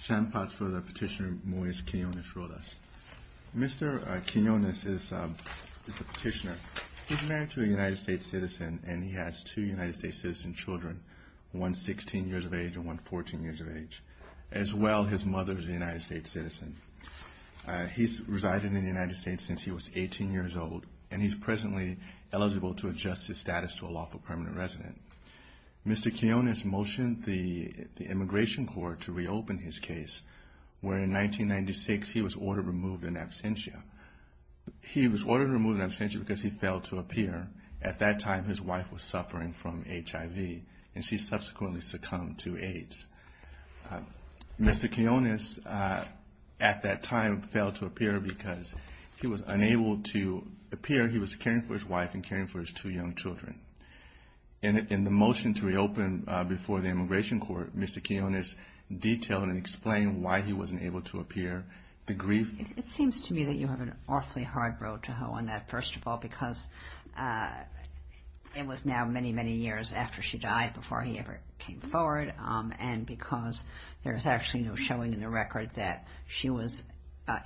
Sean Potts for the petitioner Moise Quijonez-Rodas. Mr. Quijonez is the petitioner. He's married to a United States citizen and he has two United States citizen children, one 16 years of age and one 14 years of age. As well, his mother is a United States citizen. He's resided in the United States since he was 18 years old and he's presently eligible to adjust his status to a lawful permanent resident. Mr. Quijonez motioned the Immigration Court to reopen his case where in 1996 he was ordered removed in absentia. He was ordered removed in absentia because he failed to appear. At that time, his wife was suffering from HIV and she subsequently succumbed to AIDS. Mr. Quijonez at that time failed to appear because he was unable to appear. He was caring for his wife and caring for his two young children. In the motion to reopen before the Immigration Court, Mr. Quijonez detailed and explained why he wasn't able to appear. It seems to me that you have an awfully hard road to hoe on that, first of all, because it was now many, many years after she died before he ever came forward and because there's actually no showing in the record that she was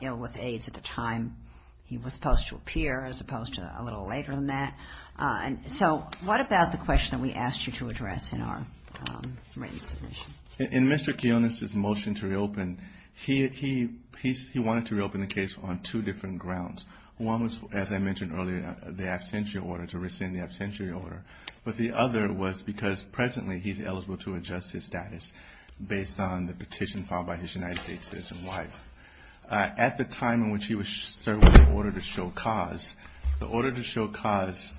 ill with AIDS at the time he was supposed to appear as opposed to a little later than that. So what about the question that we asked you to address in our written submission? In Mr. Quijonez's motion to reopen, he wanted to reopen the case on two different grounds. One was, as I mentioned earlier, the absentia order, to rescind the absentia order. But the other was because presently he's eligible to adjust his status based on the petition filed by his United States citizen wife. At the time in which he was served with the order to show cause, the order to show cause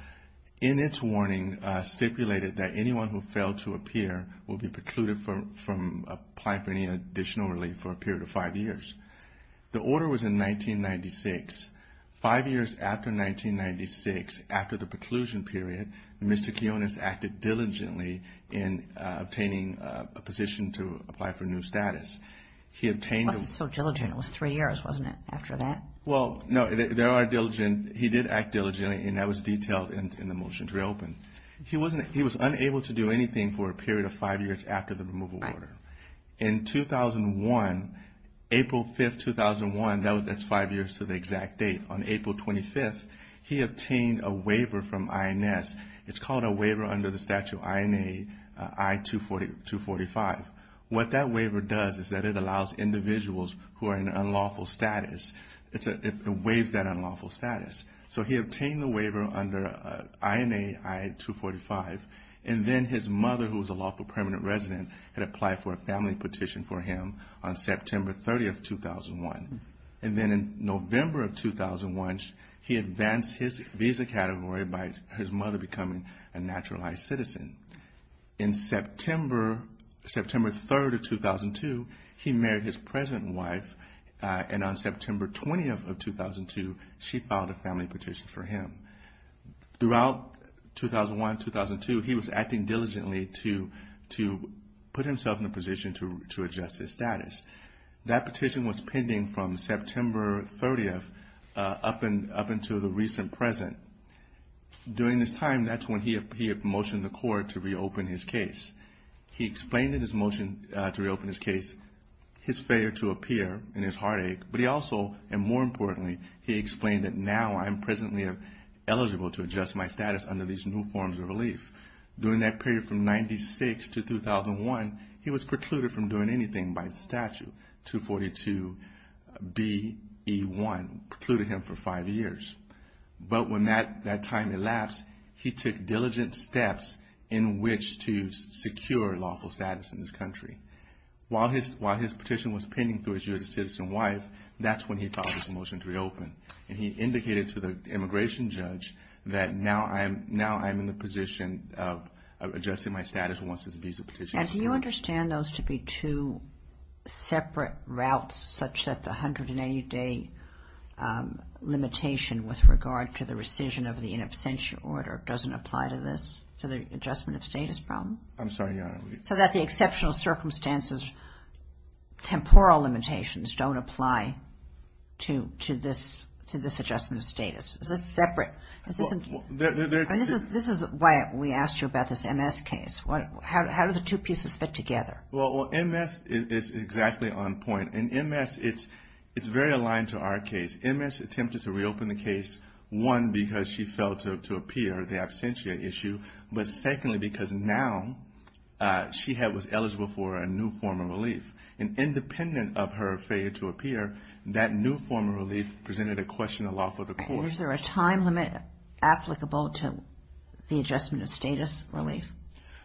in its warning stipulated that anyone who failed to appear will be precluded from applying for any additional relief for a period of five years. The order was in 1996. Five years after 1996, after the preclusion period, Mr. Quijonez acted diligently in obtaining a position to apply for new status. But he's so diligent. It was three years, wasn't it, after that? Well, no, there are diligent. He did act diligently, and that was detailed in the motion to reopen. He was unable to do anything for a period of five years after the removal order. In 2001, April 5th, 2001, that's five years to the exact date, on April 25th, he obtained a waiver from INS. It's called a waiver under the statute INA I-245. What that waiver does is that it allows individuals who are in unlawful status, it waives that unlawful status. So he obtained the waiver under INA I-245, and then his mother, who was a lawful permanent resident, had applied for a family petition for him on September 30th, 2001. And then in November of 2001, he advanced his visa category by his mother becoming a naturalized citizen. In September 3rd of 2002, he married his present wife, and on September 20th of 2002, she filed a family petition for him. Throughout 2001, 2002, he was acting diligently to put himself in a position to adjust his status. That petition was pending from September 30th up until the recent present. During this time, that's when he had motioned the court to reopen his case. He explained in his motion to reopen his case his failure to appear and his heartache, but he also, and more importantly, he explained that, now I'm presently eligible to adjust my status under these new forms of relief. During that period from 1996 to 2001, he was precluded from doing anything by statute, 242BE1, precluded him for five years. But when that time elapsed, he took diligent steps in which to secure lawful status in this country. While his petition was pending through his year as a citizen wife, that's when he filed his motion to reopen. And he indicated to the immigration judge that, now I'm in the position of adjusting my status once this visa petition is approved. And do you understand those to be two separate routes, such that the 180-day limitation with regard to the rescission of the in absentia order doesn't apply to this, to the adjustment of status problem? I'm sorry, Your Honor. So that the exceptional circumstances, temporal limitations don't apply to this adjustment of status. Is this separate? This is why we asked you about this MS case. How do the two pieces fit together? Well, MS is exactly on point. And MS, it's very aligned to our case. MS attempted to reopen the case, one, because she failed to appear, the absentia issue. But secondly, because now she was eligible for a new form of relief. And independent of her failure to appear, that new form of relief presented a question of law for the court. Is there a time limit applicable to the adjustment of status relief?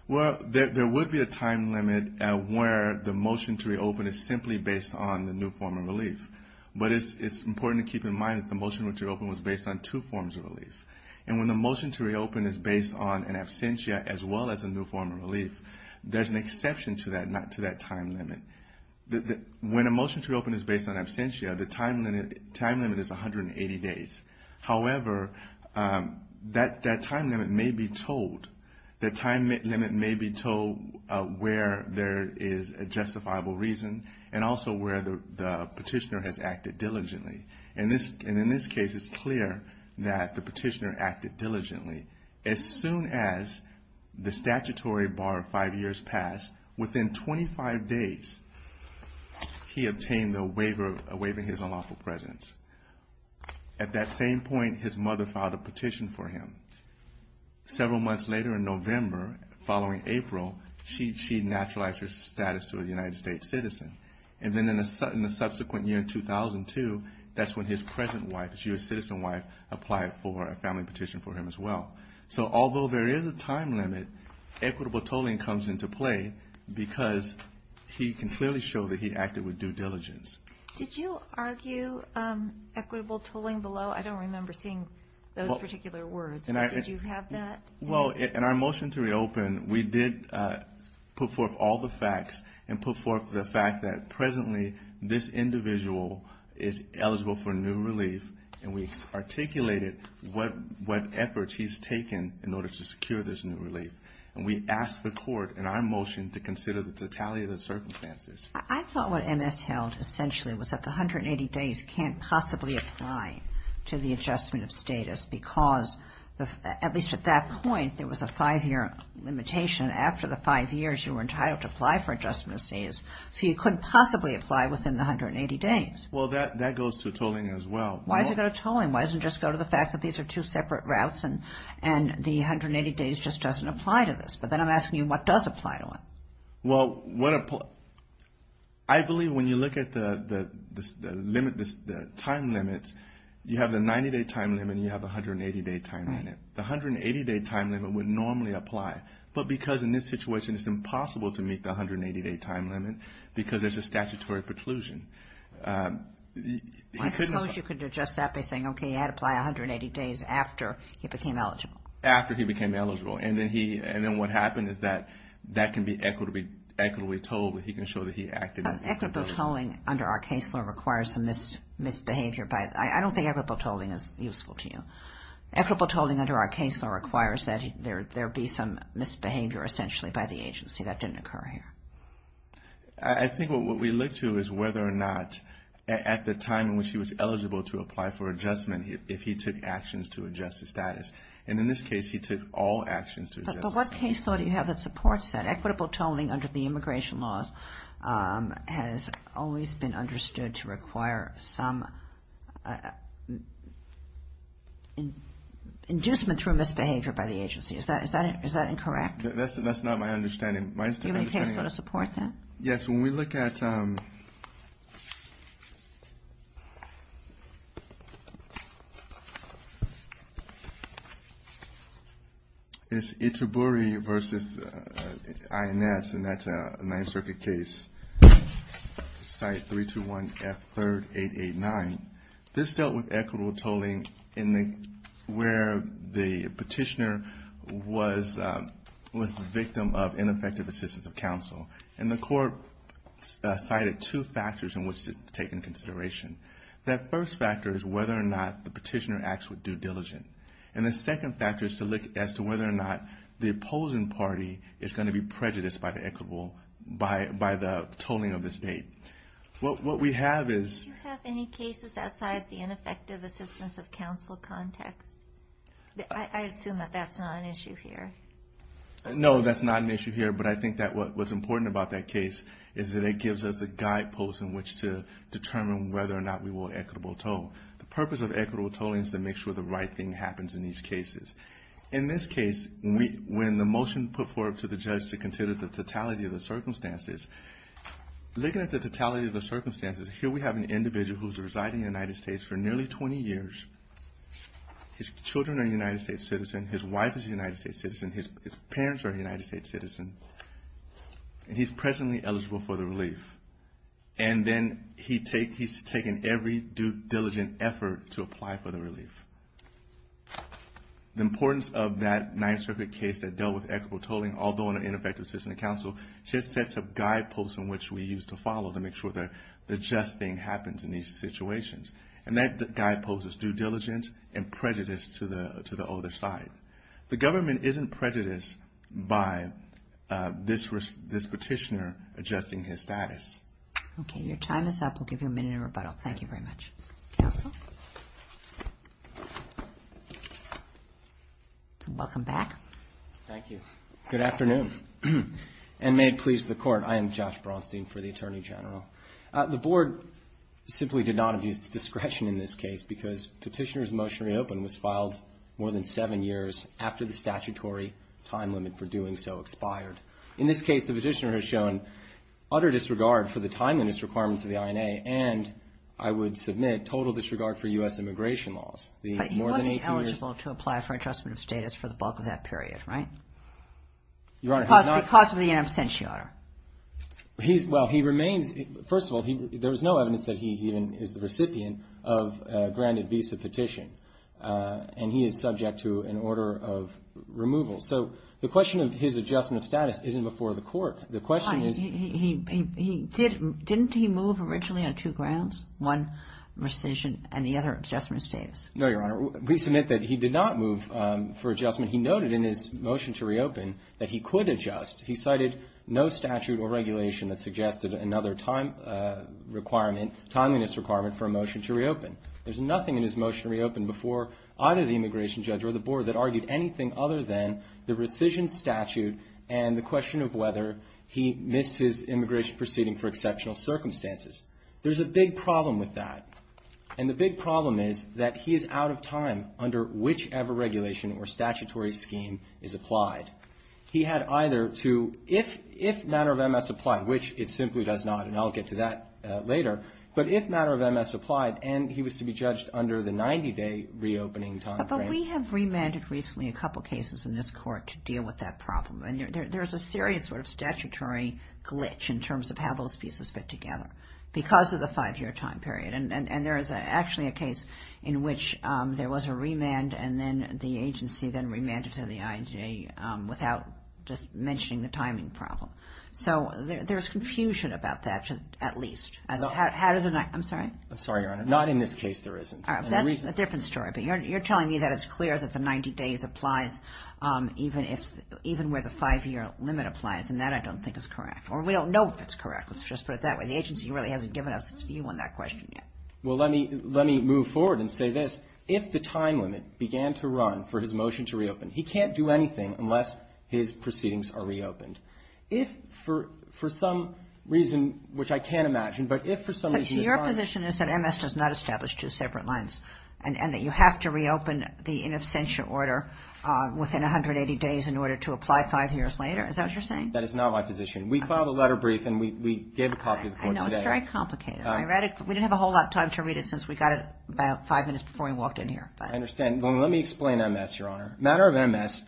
Well, there would be a time limit where the motion to reopen is simply based on the new form of relief. But it's important to keep in mind that the motion to reopen was based on two forms of relief. And when the motion to reopen is based on an absentia as well as a new form of relief, there's an exception to that, not to that time limit. When a motion to reopen is based on absentia, the time limit is 180 days. However, that time limit may be told where there is a justifiable reason and also where the petitioner has acted diligently. And in this case, it's clear that the petitioner acted diligently. As soon as the statutory bar of five years passed, within 25 days, he obtained a waiver of his unlawful presence. At that same point, his mother filed a petition for him. Several months later in November, following April, she naturalized her status to a United States citizen. And then in the subsequent year in 2002, that's when his present wife, his U.S. citizen wife, applied for a family petition for him as well. So although there is a time limit, equitable tolling comes into play because he can clearly show that he acted with due diligence. Did you argue equitable tolling below? I don't remember seeing those particular words. Did you have that? Well, in our motion to reopen, we did put forth all the facts and put forth the fact that presently this individual is eligible for new relief. And we articulated what efforts he's taken in order to secure this new relief. And we asked the court in our motion to consider the totality of the circumstances. I thought what MS held essentially was that the 180 days can't possibly apply to the adjustment of status, because at least at that point, there was a five-year limitation. After the five years, you were entitled to apply for adjustment of status. So you couldn't possibly apply within the 180 days. Well, that goes to tolling as well. Why is it going to tolling? Why doesn't it just go to the fact that these are two separate routes and the 180 days just doesn't apply to this? But then I'm asking you what does apply to it? Well, I believe when you look at the time limits, you have the 90-day time limit and you have the 180-day time limit. The 180-day time limit would normally apply. But because in this situation, it's impossible to meet the 180-day time limit because there's a statutory preclusion. I suppose you could adjust that by saying, okay, you had to apply 180 days after he became eligible. After he became eligible. And then what happened is that that can be equitably tolled, but he can show that he acted in accordance. Equitable tolling under our case law requires some misbehavior. I don't think equitable tolling is useful to you. Equitable tolling under our case law requires that there be some misbehavior essentially by the agency. That didn't occur here. I think what we look to is whether or not at the time in which he was eligible to apply for adjustment, if he took actions to adjust the status. And in this case, he took all actions to adjust the status. But what case law do you have that supports that? Equitable tolling under the immigration laws has always been understood to require some inducement through misbehavior by the agency. Is that incorrect? That's not my understanding. Do you have any case law to support that? Yes, when we look at Itaburi v. INS, and that's a Ninth Circuit case, site 321F3889, this dealt with equitable tolling where the petitioner was the victim of ineffective assistance of counsel. And the court cited two factors in which to take into consideration. That first factor is whether or not the petitioner acts with due diligence. And the second factor is to look as to whether or not the opposing party is going to be prejudiced by the tolling of the state. What we have is – Do you have any cases outside the ineffective assistance of counsel context? I assume that that's not an issue here. No, that's not an issue here. But I think that what's important about that case is that it gives us a guidepost in which to determine whether or not we will equitable toll. The purpose of equitable tolling is to make sure the right thing happens in these cases. In this case, when the motion was put forward to the judge to consider the totality of the circumstances, looking at the totality of the circumstances, here we have an individual who's residing in the United States for nearly 20 years. His children are a United States citizen. His wife is a United States citizen. His parents are a United States citizen. And he's presently eligible for the relief. And then he's taken every due diligent effort to apply for the relief. The importance of that Ninth Circuit case that dealt with equitable tolling, although in an ineffective assistance of counsel, just sets a guidepost in which we use to follow to make sure the just thing happens in these situations. And that guidepost is due diligence and prejudice to the other side. The government isn't prejudiced by this petitioner adjusting his status. Okay, your time is up. We'll give you a minute in rebuttal. Thank you very much. Counsel? Welcome back. Thank you. Good afternoon. And may it please the Court, I am Josh Bronstein for the Attorney General. The Board simply did not abuse its discretion in this case because petitioner's motion reopened was filed more than seven years after the statutory time limit for doing so expired. In this case, the petitioner has shown utter disregard for the timeliness requirements of the INA and, I would submit, total disregard for U.S. immigration laws. But he wasn't eligible to apply for adjustment of status for the bulk of that period, right? Your Honor, he's not. Because of the absentia, Your Honor. Well, he remains. First of all, there is no evidence that he even is the recipient of a granted visa petition. And he is subject to an order of removal. So the question of his adjustment of status isn't before the Court. The question is he didn't he move originally on two grounds, one rescission and the other adjustment of status? No, Your Honor. We submit that he did not move for adjustment. He noted in his motion to reopen that he could adjust. He cited no statute or regulation that suggested another time requirement, timeliness requirement for a motion to reopen. There's nothing in his motion to reopen before either the immigration judge or the Board that argued anything other than the rescission statute and the question of whether he missed his immigration proceeding for exceptional circumstances. There's a big problem with that. And the big problem is that he is out of time under whichever regulation or statutory scheme is applied. He had either to, if matter of MS applied, which it simply does not, and I'll get to that later, but if matter of MS applied and he was to be judged under the 90-day reopening timeframe. But we have remanded recently a couple cases in this Court to deal with that problem. And there's a serious sort of statutory glitch in terms of how those pieces fit together because of the five-year time period. And there is actually a case in which there was a remand and then the agency then remanded to the IJ without just mentioning the timing problem. So there's confusion about that, at least. I'm sorry? I'm sorry, Your Honor. Not in this case there isn't. That's a different story. But you're telling me that it's clear that the 90 days applies even where the five-year limit applies. And that I don't think is correct. Or we don't know if it's correct. Let's just put it that way. The agency really hasn't given us its view on that question yet. Well, let me move forward and say this. If the time limit began to run for his motion to reopen, he can't do anything unless his proceedings are reopened. If, for some reason, which I can't imagine, but if for some reason the time limit. But your position is that MS does not establish two separate lines and that you have to reopen the in absentia order within 180 days in order to apply five years later? Is that what you're saying? That is not my position. We filed a letter brief and we gave a copy of the court today. I know. It's very complicated. I read it. We didn't have a whole lot of time to read it since we got it about five minutes before we walked in here. I understand. Let me explain MS, Your Honor. A matter of MS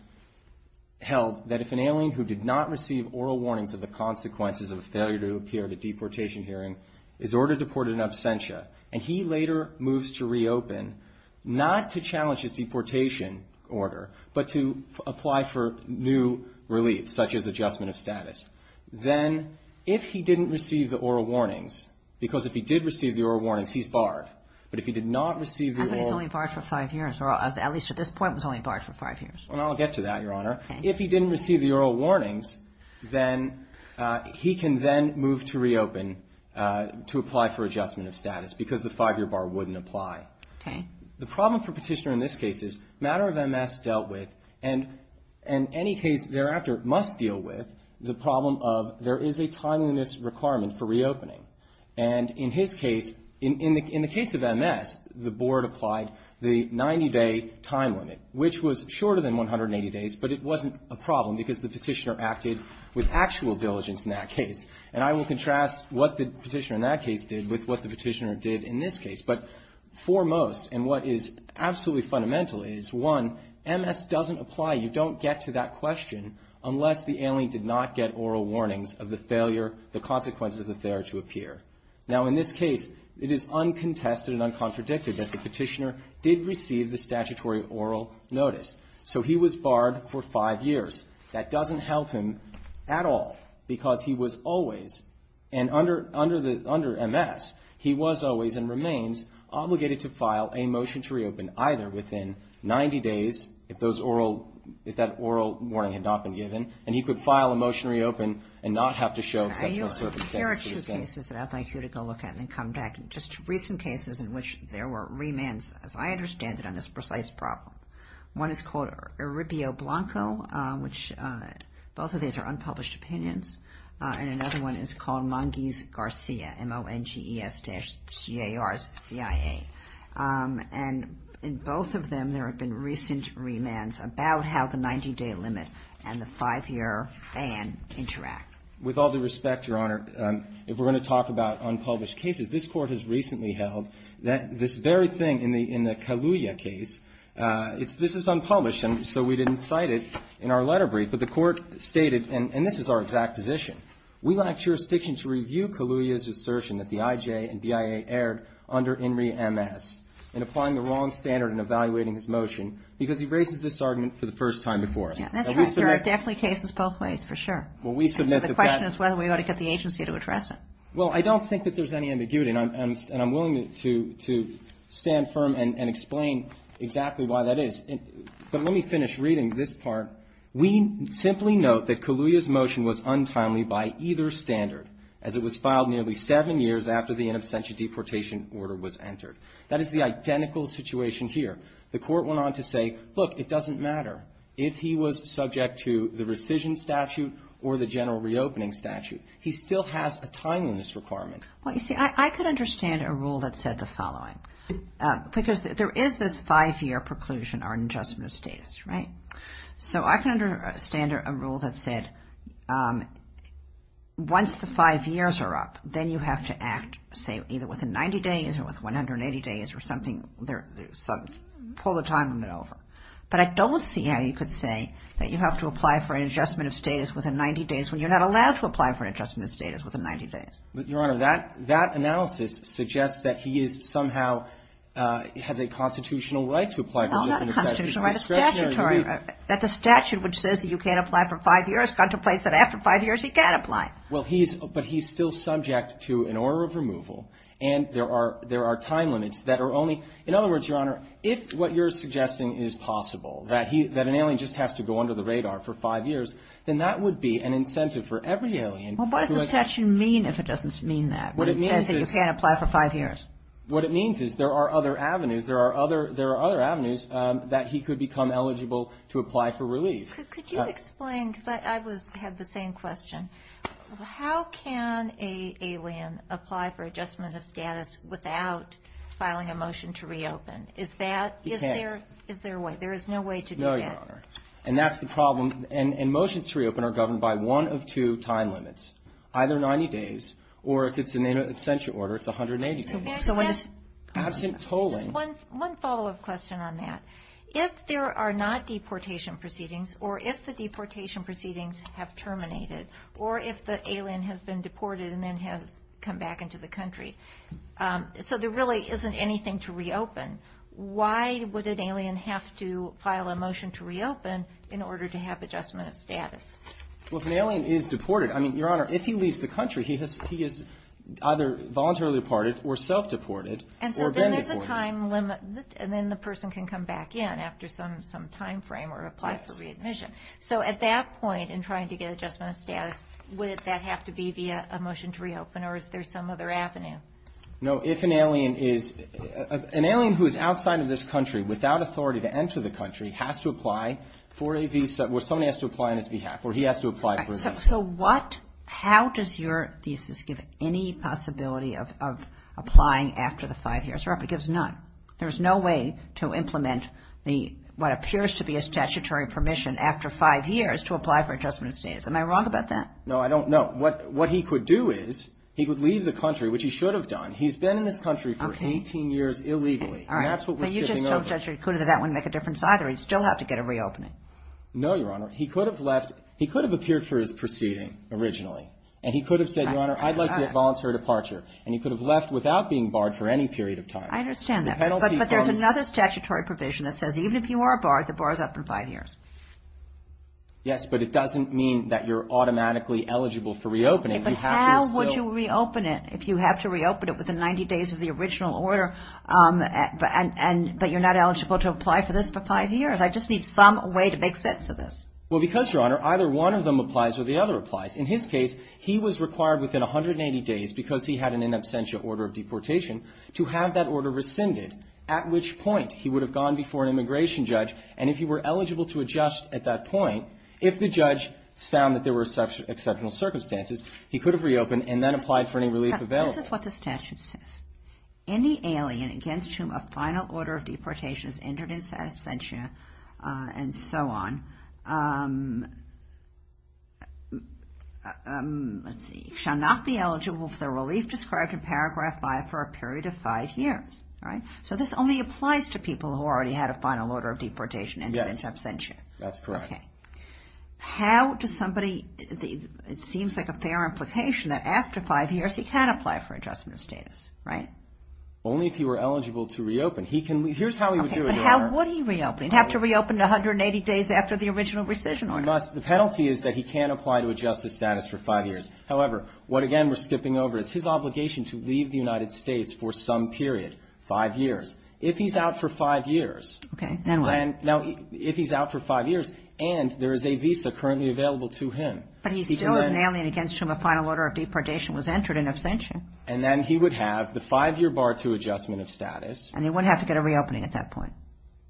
held that if an alien who did not receive oral warnings of the consequences of a failure to appear at a deportation hearing is ordered to report in absentia and he later moves to reopen, not to challenge his deportation order, but to apply for new relief, such as adjustment of status. Then if he didn't receive the oral warnings, because if he did receive the oral warnings, he's barred. But if he did not receive the oral – I thought he was only barred for five years, or at least at this point was only barred for five years. And I'll get to that, Your Honor. Okay. If he didn't receive the oral warnings, then he can then move to reopen to apply for adjustment of status, because the five-year bar wouldn't apply. Okay. The problem for Petitioner in this case is matter of MS dealt with, and any case thereafter must deal with, the problem of there is a timeliness requirement for reopening. And in his case, in the case of MS, the Board applied the 90-day time limit, which was shorter than 180 days, but it wasn't a problem because the Petitioner acted with actual diligence in that case. And I will contrast what the Petitioner in that case did with what the Petitioner did in this case. But foremost, and what is absolutely fundamental, is, one, MS doesn't apply. You don't get to that question unless the alien did not get oral warnings of the failure, the consequences of the failure to appear. Now, in this case, it is uncontested and uncontradicted that the Petitioner did receive the statutory oral notice. So he was barred for five years. That doesn't help him at all, because he was always, and under MS, he was always and remains obligated to file a motion to reopen, either within 90 days, if that oral warning had not been given, and he could file a motion to reopen and not have to show exceptional circumstances. There are two cases that I'd like you to go look at and then come back. Just recent cases in which there were remands, as I understand it, on this precise problem. One is called Eribio-Blanco, which both of these are unpublished opinions. And another one is called Mangiz-Garcia, M-O-N-G-E-S-C-A-R-C-I-A. And in both of them, there have been recent remands about how the 90-day limit and the five-year ban interact. With all due respect, Your Honor, if we're going to talk about unpublished cases, this Court has recently held that this very thing in the Kaluuya case, this is unpublished, and so we didn't cite it in our letter brief. But the Court stated, and this is our exact position, we lack jurisdiction to review Kaluuya's assertion that the IJ and BIA erred under INRI-MS in applying the wrong standard in evaluating his motion, because he raises this argument for the first time before us. That's right, Your Honor, definitely cases both ways, for sure. And so the question is whether we ought to get the agency to address it. Well, I don't think that there's any ambiguity, and I'm willing to stand firm and explain exactly why that is. But let me finish reading this part. We simply note that Kaluuya's motion was untimely by either standard, as it was filed nearly seven years after the in absentia deportation order was entered. That is the identical situation here. The Court went on to say, look, it doesn't matter if he was subject to the rescission statute or the general reopening statute. He still has a timeliness requirement. Well, you see, I could understand a rule that said the following, because there is this five-year preclusion or an adjustment of status, right? So I can understand a rule that said once the five years are up, then you have to act, say, either within 90 days or within 180 days, or something, pull the time limit over. But I don't see how you could say that you have to apply for an adjustment of status within 90 days when you're not allowed to apply for an adjustment of status within 90 days. But, Your Honor, that analysis suggests that he is somehow has a constitutional right to apply. Well, not constitutional right. That the statute which says that you can't apply for five years contemplates that after five years he can apply. Well, he's, but he's still subject to an order of removal. And there are time limits that are only, in other words, Your Honor, if what you're suggesting is possible, that an alien just has to go under the radar for five years, then that would be an incentive for every alien. Well, what does the statute mean if it doesn't mean that? What it means is there are other avenues. There are other avenues that he could become eligible to apply for relief. Could you explain, because I had the same question. How can an alien apply for adjustment of status without filing a motion to reopen? Is that, is there a way? There is no way to do that. No, Your Honor. And that's the problem. And motions to reopen are governed by one of two time limits. Either 90 days, or if it's an extension order, it's 180 days. One follow-up question on that. If there are not deportation proceedings, or if the deportation proceedings have terminated, or if the alien has been deported and then has come back into the country, so there really isn't anything to reopen. Why would an alien have to file a motion to reopen in order to have adjustment of status? Well, if an alien is deported, I mean, Your Honor, if he leaves the country, he has either voluntarily departed or self-deported or been deported. And then the person can come back in after some timeframe or apply for readmission. So at that point, in trying to get adjustment of status, would that have to be via a motion to reopen, or is there some other avenue? No, if an alien is, an alien who is outside of this country, without authority to enter the country, has to apply for a visa, or someone has to apply on his behalf, or he has to apply for a visa. So what, how does your thesis give any possibility of applying after the five years? It gives none. There's no way to implement what appears to be a statutory permission after five years to apply for adjustment of status. Am I wrong about that? No, I don't know. What he could do is, he could leave the country, which he should have done. He's been in this country for 18 years illegally, and that's what we're skipping over. No, Your Honor, he could have left, he could have appeared for his proceeding originally, and he could have said, Your Honor, I'd like to get voluntary departure, and he could have left without being barred for any period of time. I understand that, but there's another statutory provision that says even if you are barred, the bar is up for five years. Yes, but it doesn't mean that you're automatically eligible for reopening. But how would you reopen it if you have to reopen it within 90 days of the original order, but you're not eligible to apply for this for five years? I just need some way to make sense of this. Well, because, Your Honor, either one of them applies or the other applies. In his case, he was required within 180 days, because he had an in absentia order of deportation, to have that order rescinded, at which point he would have gone before an immigration judge, and if he were eligible to adjust at that point, if the judge found that there were exceptional circumstances, he could have reopened and then applied for any relief available. This is what the statute says. Any alien against whom a final order of deportation is entered in absentia and so on shall not be eligible for the relief described in Paragraph 5 for a period of five years. So this only applies to people who already had a final order of deportation and are in absentia. That's correct. Okay. How does somebody, it seems like a fair implication that after five years he can apply for adjustment of status, right? Only if he were eligible to reopen. He can, here's how he would do it, Your Honor. Okay, but how would he reopen? He'd have to reopen 180 days after the original rescission order. The penalty is that he can't apply to adjust his status for five years. However, what, again, we're skipping over is his obligation to leave the United States for some period, five years. If he's out for five years. Okay, then what? Now, if he's out for five years and there is a visa currently available to him. But he still is an alien against whom a final order of deportation was entered in absentia. And then he would have the five-year bar to adjustment of status. And he wouldn't have to get a reopening at that point.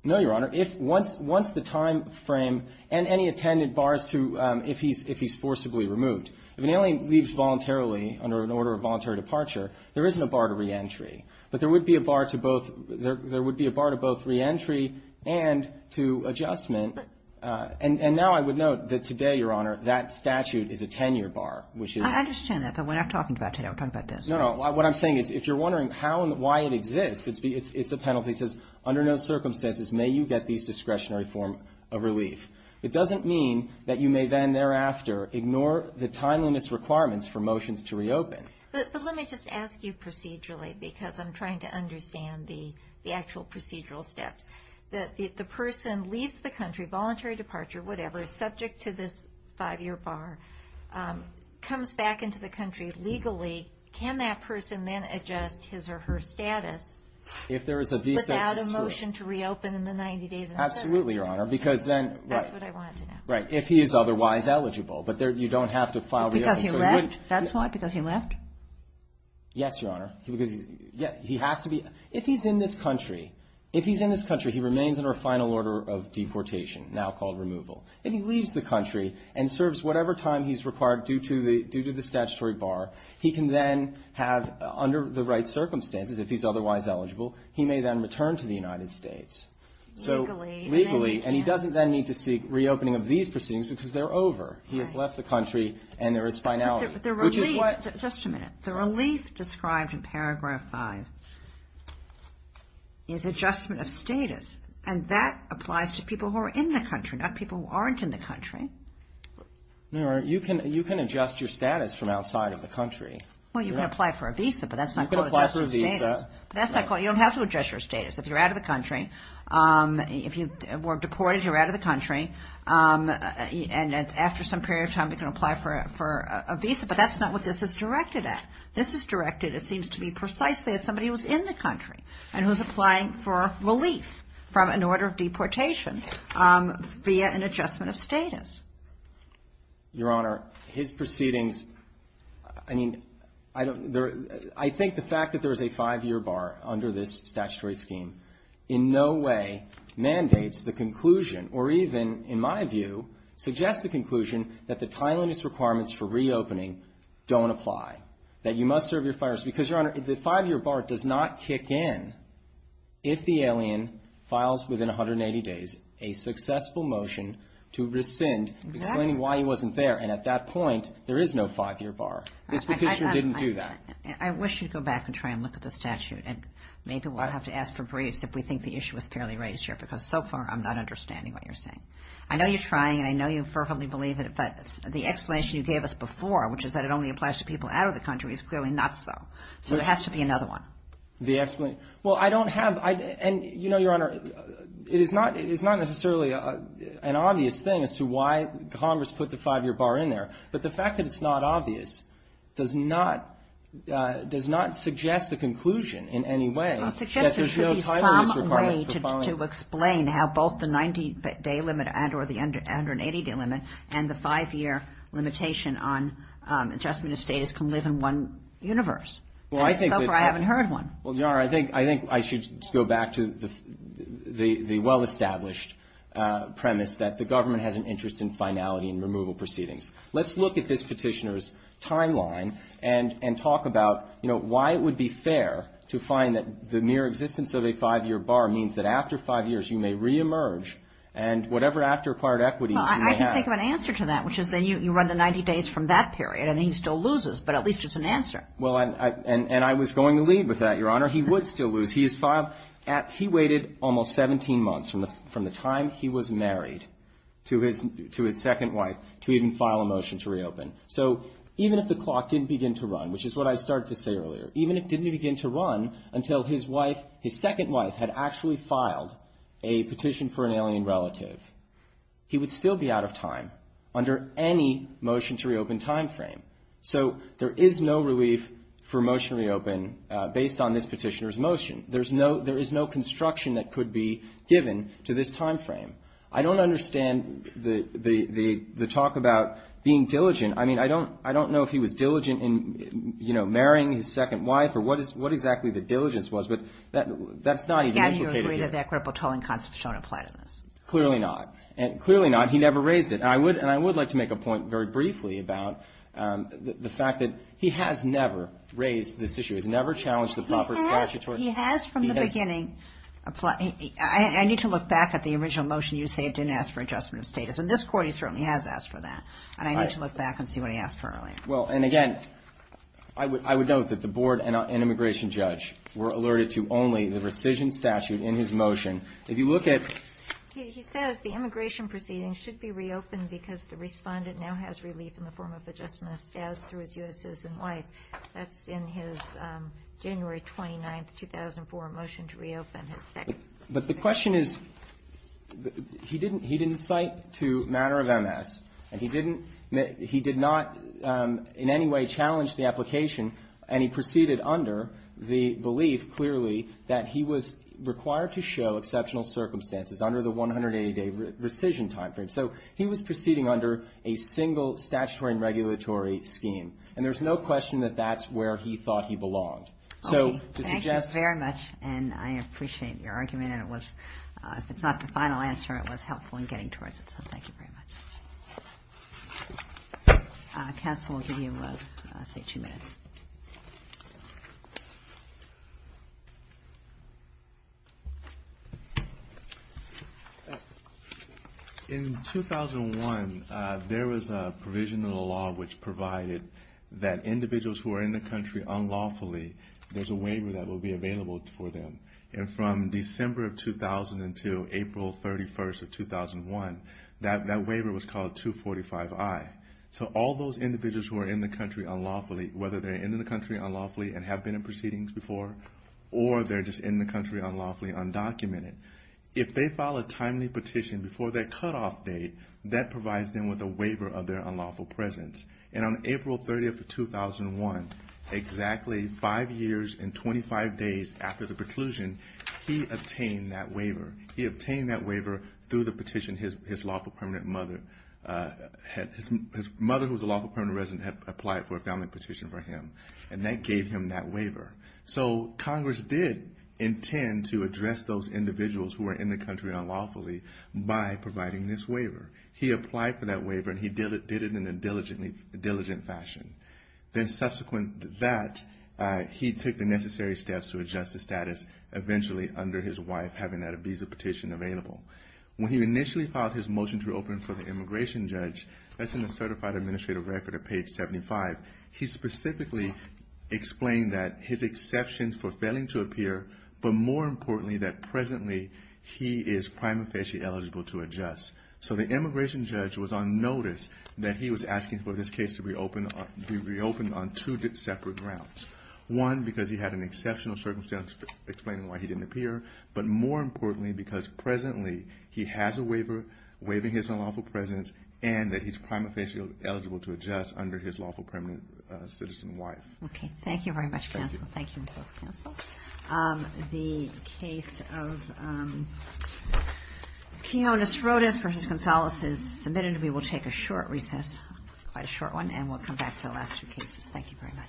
No, Your Honor. If once the time frame and any attendant bars to, if he's forcibly removed. If an alien leaves voluntarily under an order of voluntary departure, there isn't a bar to reentry. But there would be a bar to both, there would be a bar to both reentry and to adjustment. And now I would note that today, Your Honor, that statute is a 10-year bar, which is. I understand that, but we're not talking about today. We're talking about this. No, no. What I'm saying is if you're wondering how and why it exists, it's a penalty. It says, under no circumstances may you get these discretionary form of relief. It doesn't mean that you may then thereafter ignore the timeliness requirements for motions to reopen. But let me just ask you procedurally because I'm trying to understand the actual procedural steps. If the person leaves the country, voluntary departure, whatever, subject to this five-year bar, comes back into the country legally, can that person then adjust his or her status. If there is a visa. Without a motion to reopen in the 90 days. Absolutely, Your Honor. Because then. That's what I wanted to know. Right. If he is otherwise eligible. But you don't have to file. Because he left? That's why? Because he left? Yes, Your Honor. Because he has to be. If he's in this country, if he's in this country, he remains under a final order of deportation, now called removal. And he leaves the country and serves whatever time he's required due to the statutory bar. He can then have, under the right circumstances, if he's otherwise eligible, he may then return to the United States. Legally. Legally. And he doesn't then need to seek reopening of these proceedings because they're over. He has left the country and there is finality. Which is what. Just a minute. The relief described in paragraph five is adjustment of status. And that applies to people who are in the country, not people who aren't in the country. Your Honor, you can adjust your status from outside of the country. Well, you can apply for a visa. But that's not. You can apply for a visa. That's not. You don't have to adjust your status. If you're out of the country. If you were deported, you're out of the country. And after some period of time, you can apply for a visa. But that's not what this is directed at. This is directed, it seems to be, precisely at somebody who's in the country. And who's applying for relief from an order of deportation via an adjustment of status. Your Honor, his proceedings. I mean, I don't. I think the fact that there is a five-year bar under this statutory scheme in no way mandates the conclusion. Or even, in my view, suggests the conclusion that the timeliness requirements for reopening don't apply. That you must serve your five years. Because, Your Honor, the five-year bar does not kick in if the alien files within 180 days a successful motion to rescind. Exactly. Explaining why he wasn't there. And at that point, there is no five-year bar. This petition didn't do that. I wish you'd go back and try and look at the statute. And maybe we'll have to ask for briefs if we think the issue is fairly raised here. Because so far, I'm not understanding what you're saying. I know you're trying. And I know you fervently believe it. But the explanation you gave us before, which is that it only applies to people out of the country, is clearly not so. So there has to be another one. The explanation. Well, I don't have. And, you know, Your Honor, it is not necessarily an obvious thing as to why Congress put the five-year bar in there. But the fact that it's not obvious does not suggest a conclusion in any way that there's no timeliness requirement for filing. I mean, how both the 90-day limit and or the 180-day limit and the five-year limitation on adjustment of status can live in one universe. So far, I haven't heard one. Well, Your Honor, I think I should go back to the well-established premise that the government has an interest in finality and removal proceedings. Let's look at this petitioner's timeline and talk about, you know, why it would be fair to find that the mere existence of a five-year bar means that after five years you may reemerge and whatever after acquired equity you may have. Well, I can think of an answer to that, which is then you run the 90 days from that period. And he still loses. But at least it's an answer. Well, and I was going to lead with that, Your Honor. He would still lose. He waited almost 17 months from the time he was married to his second wife to even file a motion to reopen. So even if the clock didn't begin to run, which is what I started to say earlier, even if it didn't begin to run until his wife, his second wife had actually filed a petition for an alien relative, he would still be out of time under any motion to reopen time frame. So there is no relief for motion to reopen based on this petitioner's motion. There is no construction that could be given to this time frame. I don't understand the talk about being diligent. I mean, I don't know if he was diligent in, you know, marrying his second wife or what exactly the diligence was. But that's not even implicated here. Yeah, you agree that the equitable tolling concepts don't apply to this. Clearly not. Clearly not. He never raised it. And I would like to make a point very briefly about the fact that he has never raised this issue. He's never challenged the proper statutory. He has from the beginning. I need to look back at the original motion you saved and asked for adjustment of status. In this court he certainly has asked for that. And I need to look back and see what he asked for earlier. Well, and again, I would note that the board and immigration judge were alerted to only the rescission statute in his motion. If you look at. He says the immigration proceedings should be reopened because the respondent now has relief in the form of adjustment of status through his U.S. citizen wife. That's in his January 29th, 2004 motion to reopen his second. But the question is, he didn't cite to matter of MS. And he did not in any way challenge the application. And he proceeded under the belief, clearly, that he was required to show exceptional circumstances under the 180-day rescission time frame. So he was proceeding under a single statutory and regulatory scheme. And there's no question that that's where he thought he belonged. So to suggest. Thank you very much. And I appreciate your argument. And it was, if it's not the final answer, it was helpful in getting towards it. So thank you very much. Counsel will give you, say, two minutes. In 2001, there was a provision in the law which provided that individuals who are in the country unlawfully, there's a waiver that will be available for them. And from December of 2002, April 31st of 2001, that waiver was called 245-I. So all those individuals who are in the country unlawfully, whether they're in the country unlawfully and have been in proceedings before, or they're just in the country unlawfully undocumented, if they file a timely petition before that cutoff date, that provides them with a waiver of their unlawful presence. And on April 30th of 2001, exactly five years and 25 days after the preclusion, he obtained that waiver. He obtained that waiver through the petition his lawful permanent mother had, his mother who was a lawful permanent resident had applied for a family petition for him. And that gave him that waiver. So Congress did intend to address those individuals who were in the country unlawfully by providing this waiver. He applied for that waiver, and he did it in a diligent fashion. Then subsequent to that, he took the necessary steps to adjust the status, eventually under his wife having that visa petition available. When he initially filed his motion to reopen for the immigration judge, that's in the Certified Administrative Record at page 75, he specifically explained that his exceptions for failing to appear, but more importantly that presently he is prima facie eligible to adjust. So the immigration judge was on notice that he was asking for this case to be reopened on two separate grounds. One, because he had an exceptional circumstance explaining why he didn't appear, but more importantly because presently he has a waiver waiving his unlawful presence and that he's prima facie eligible to adjust under his lawful permanent citizen wife. Okay, thank you very much, counsel. Thank you. The case of Keonis Rodas v. Gonzalez is submitted. We will take a short recess, quite a short one, and we'll come back to the last two cases. Thank you very much.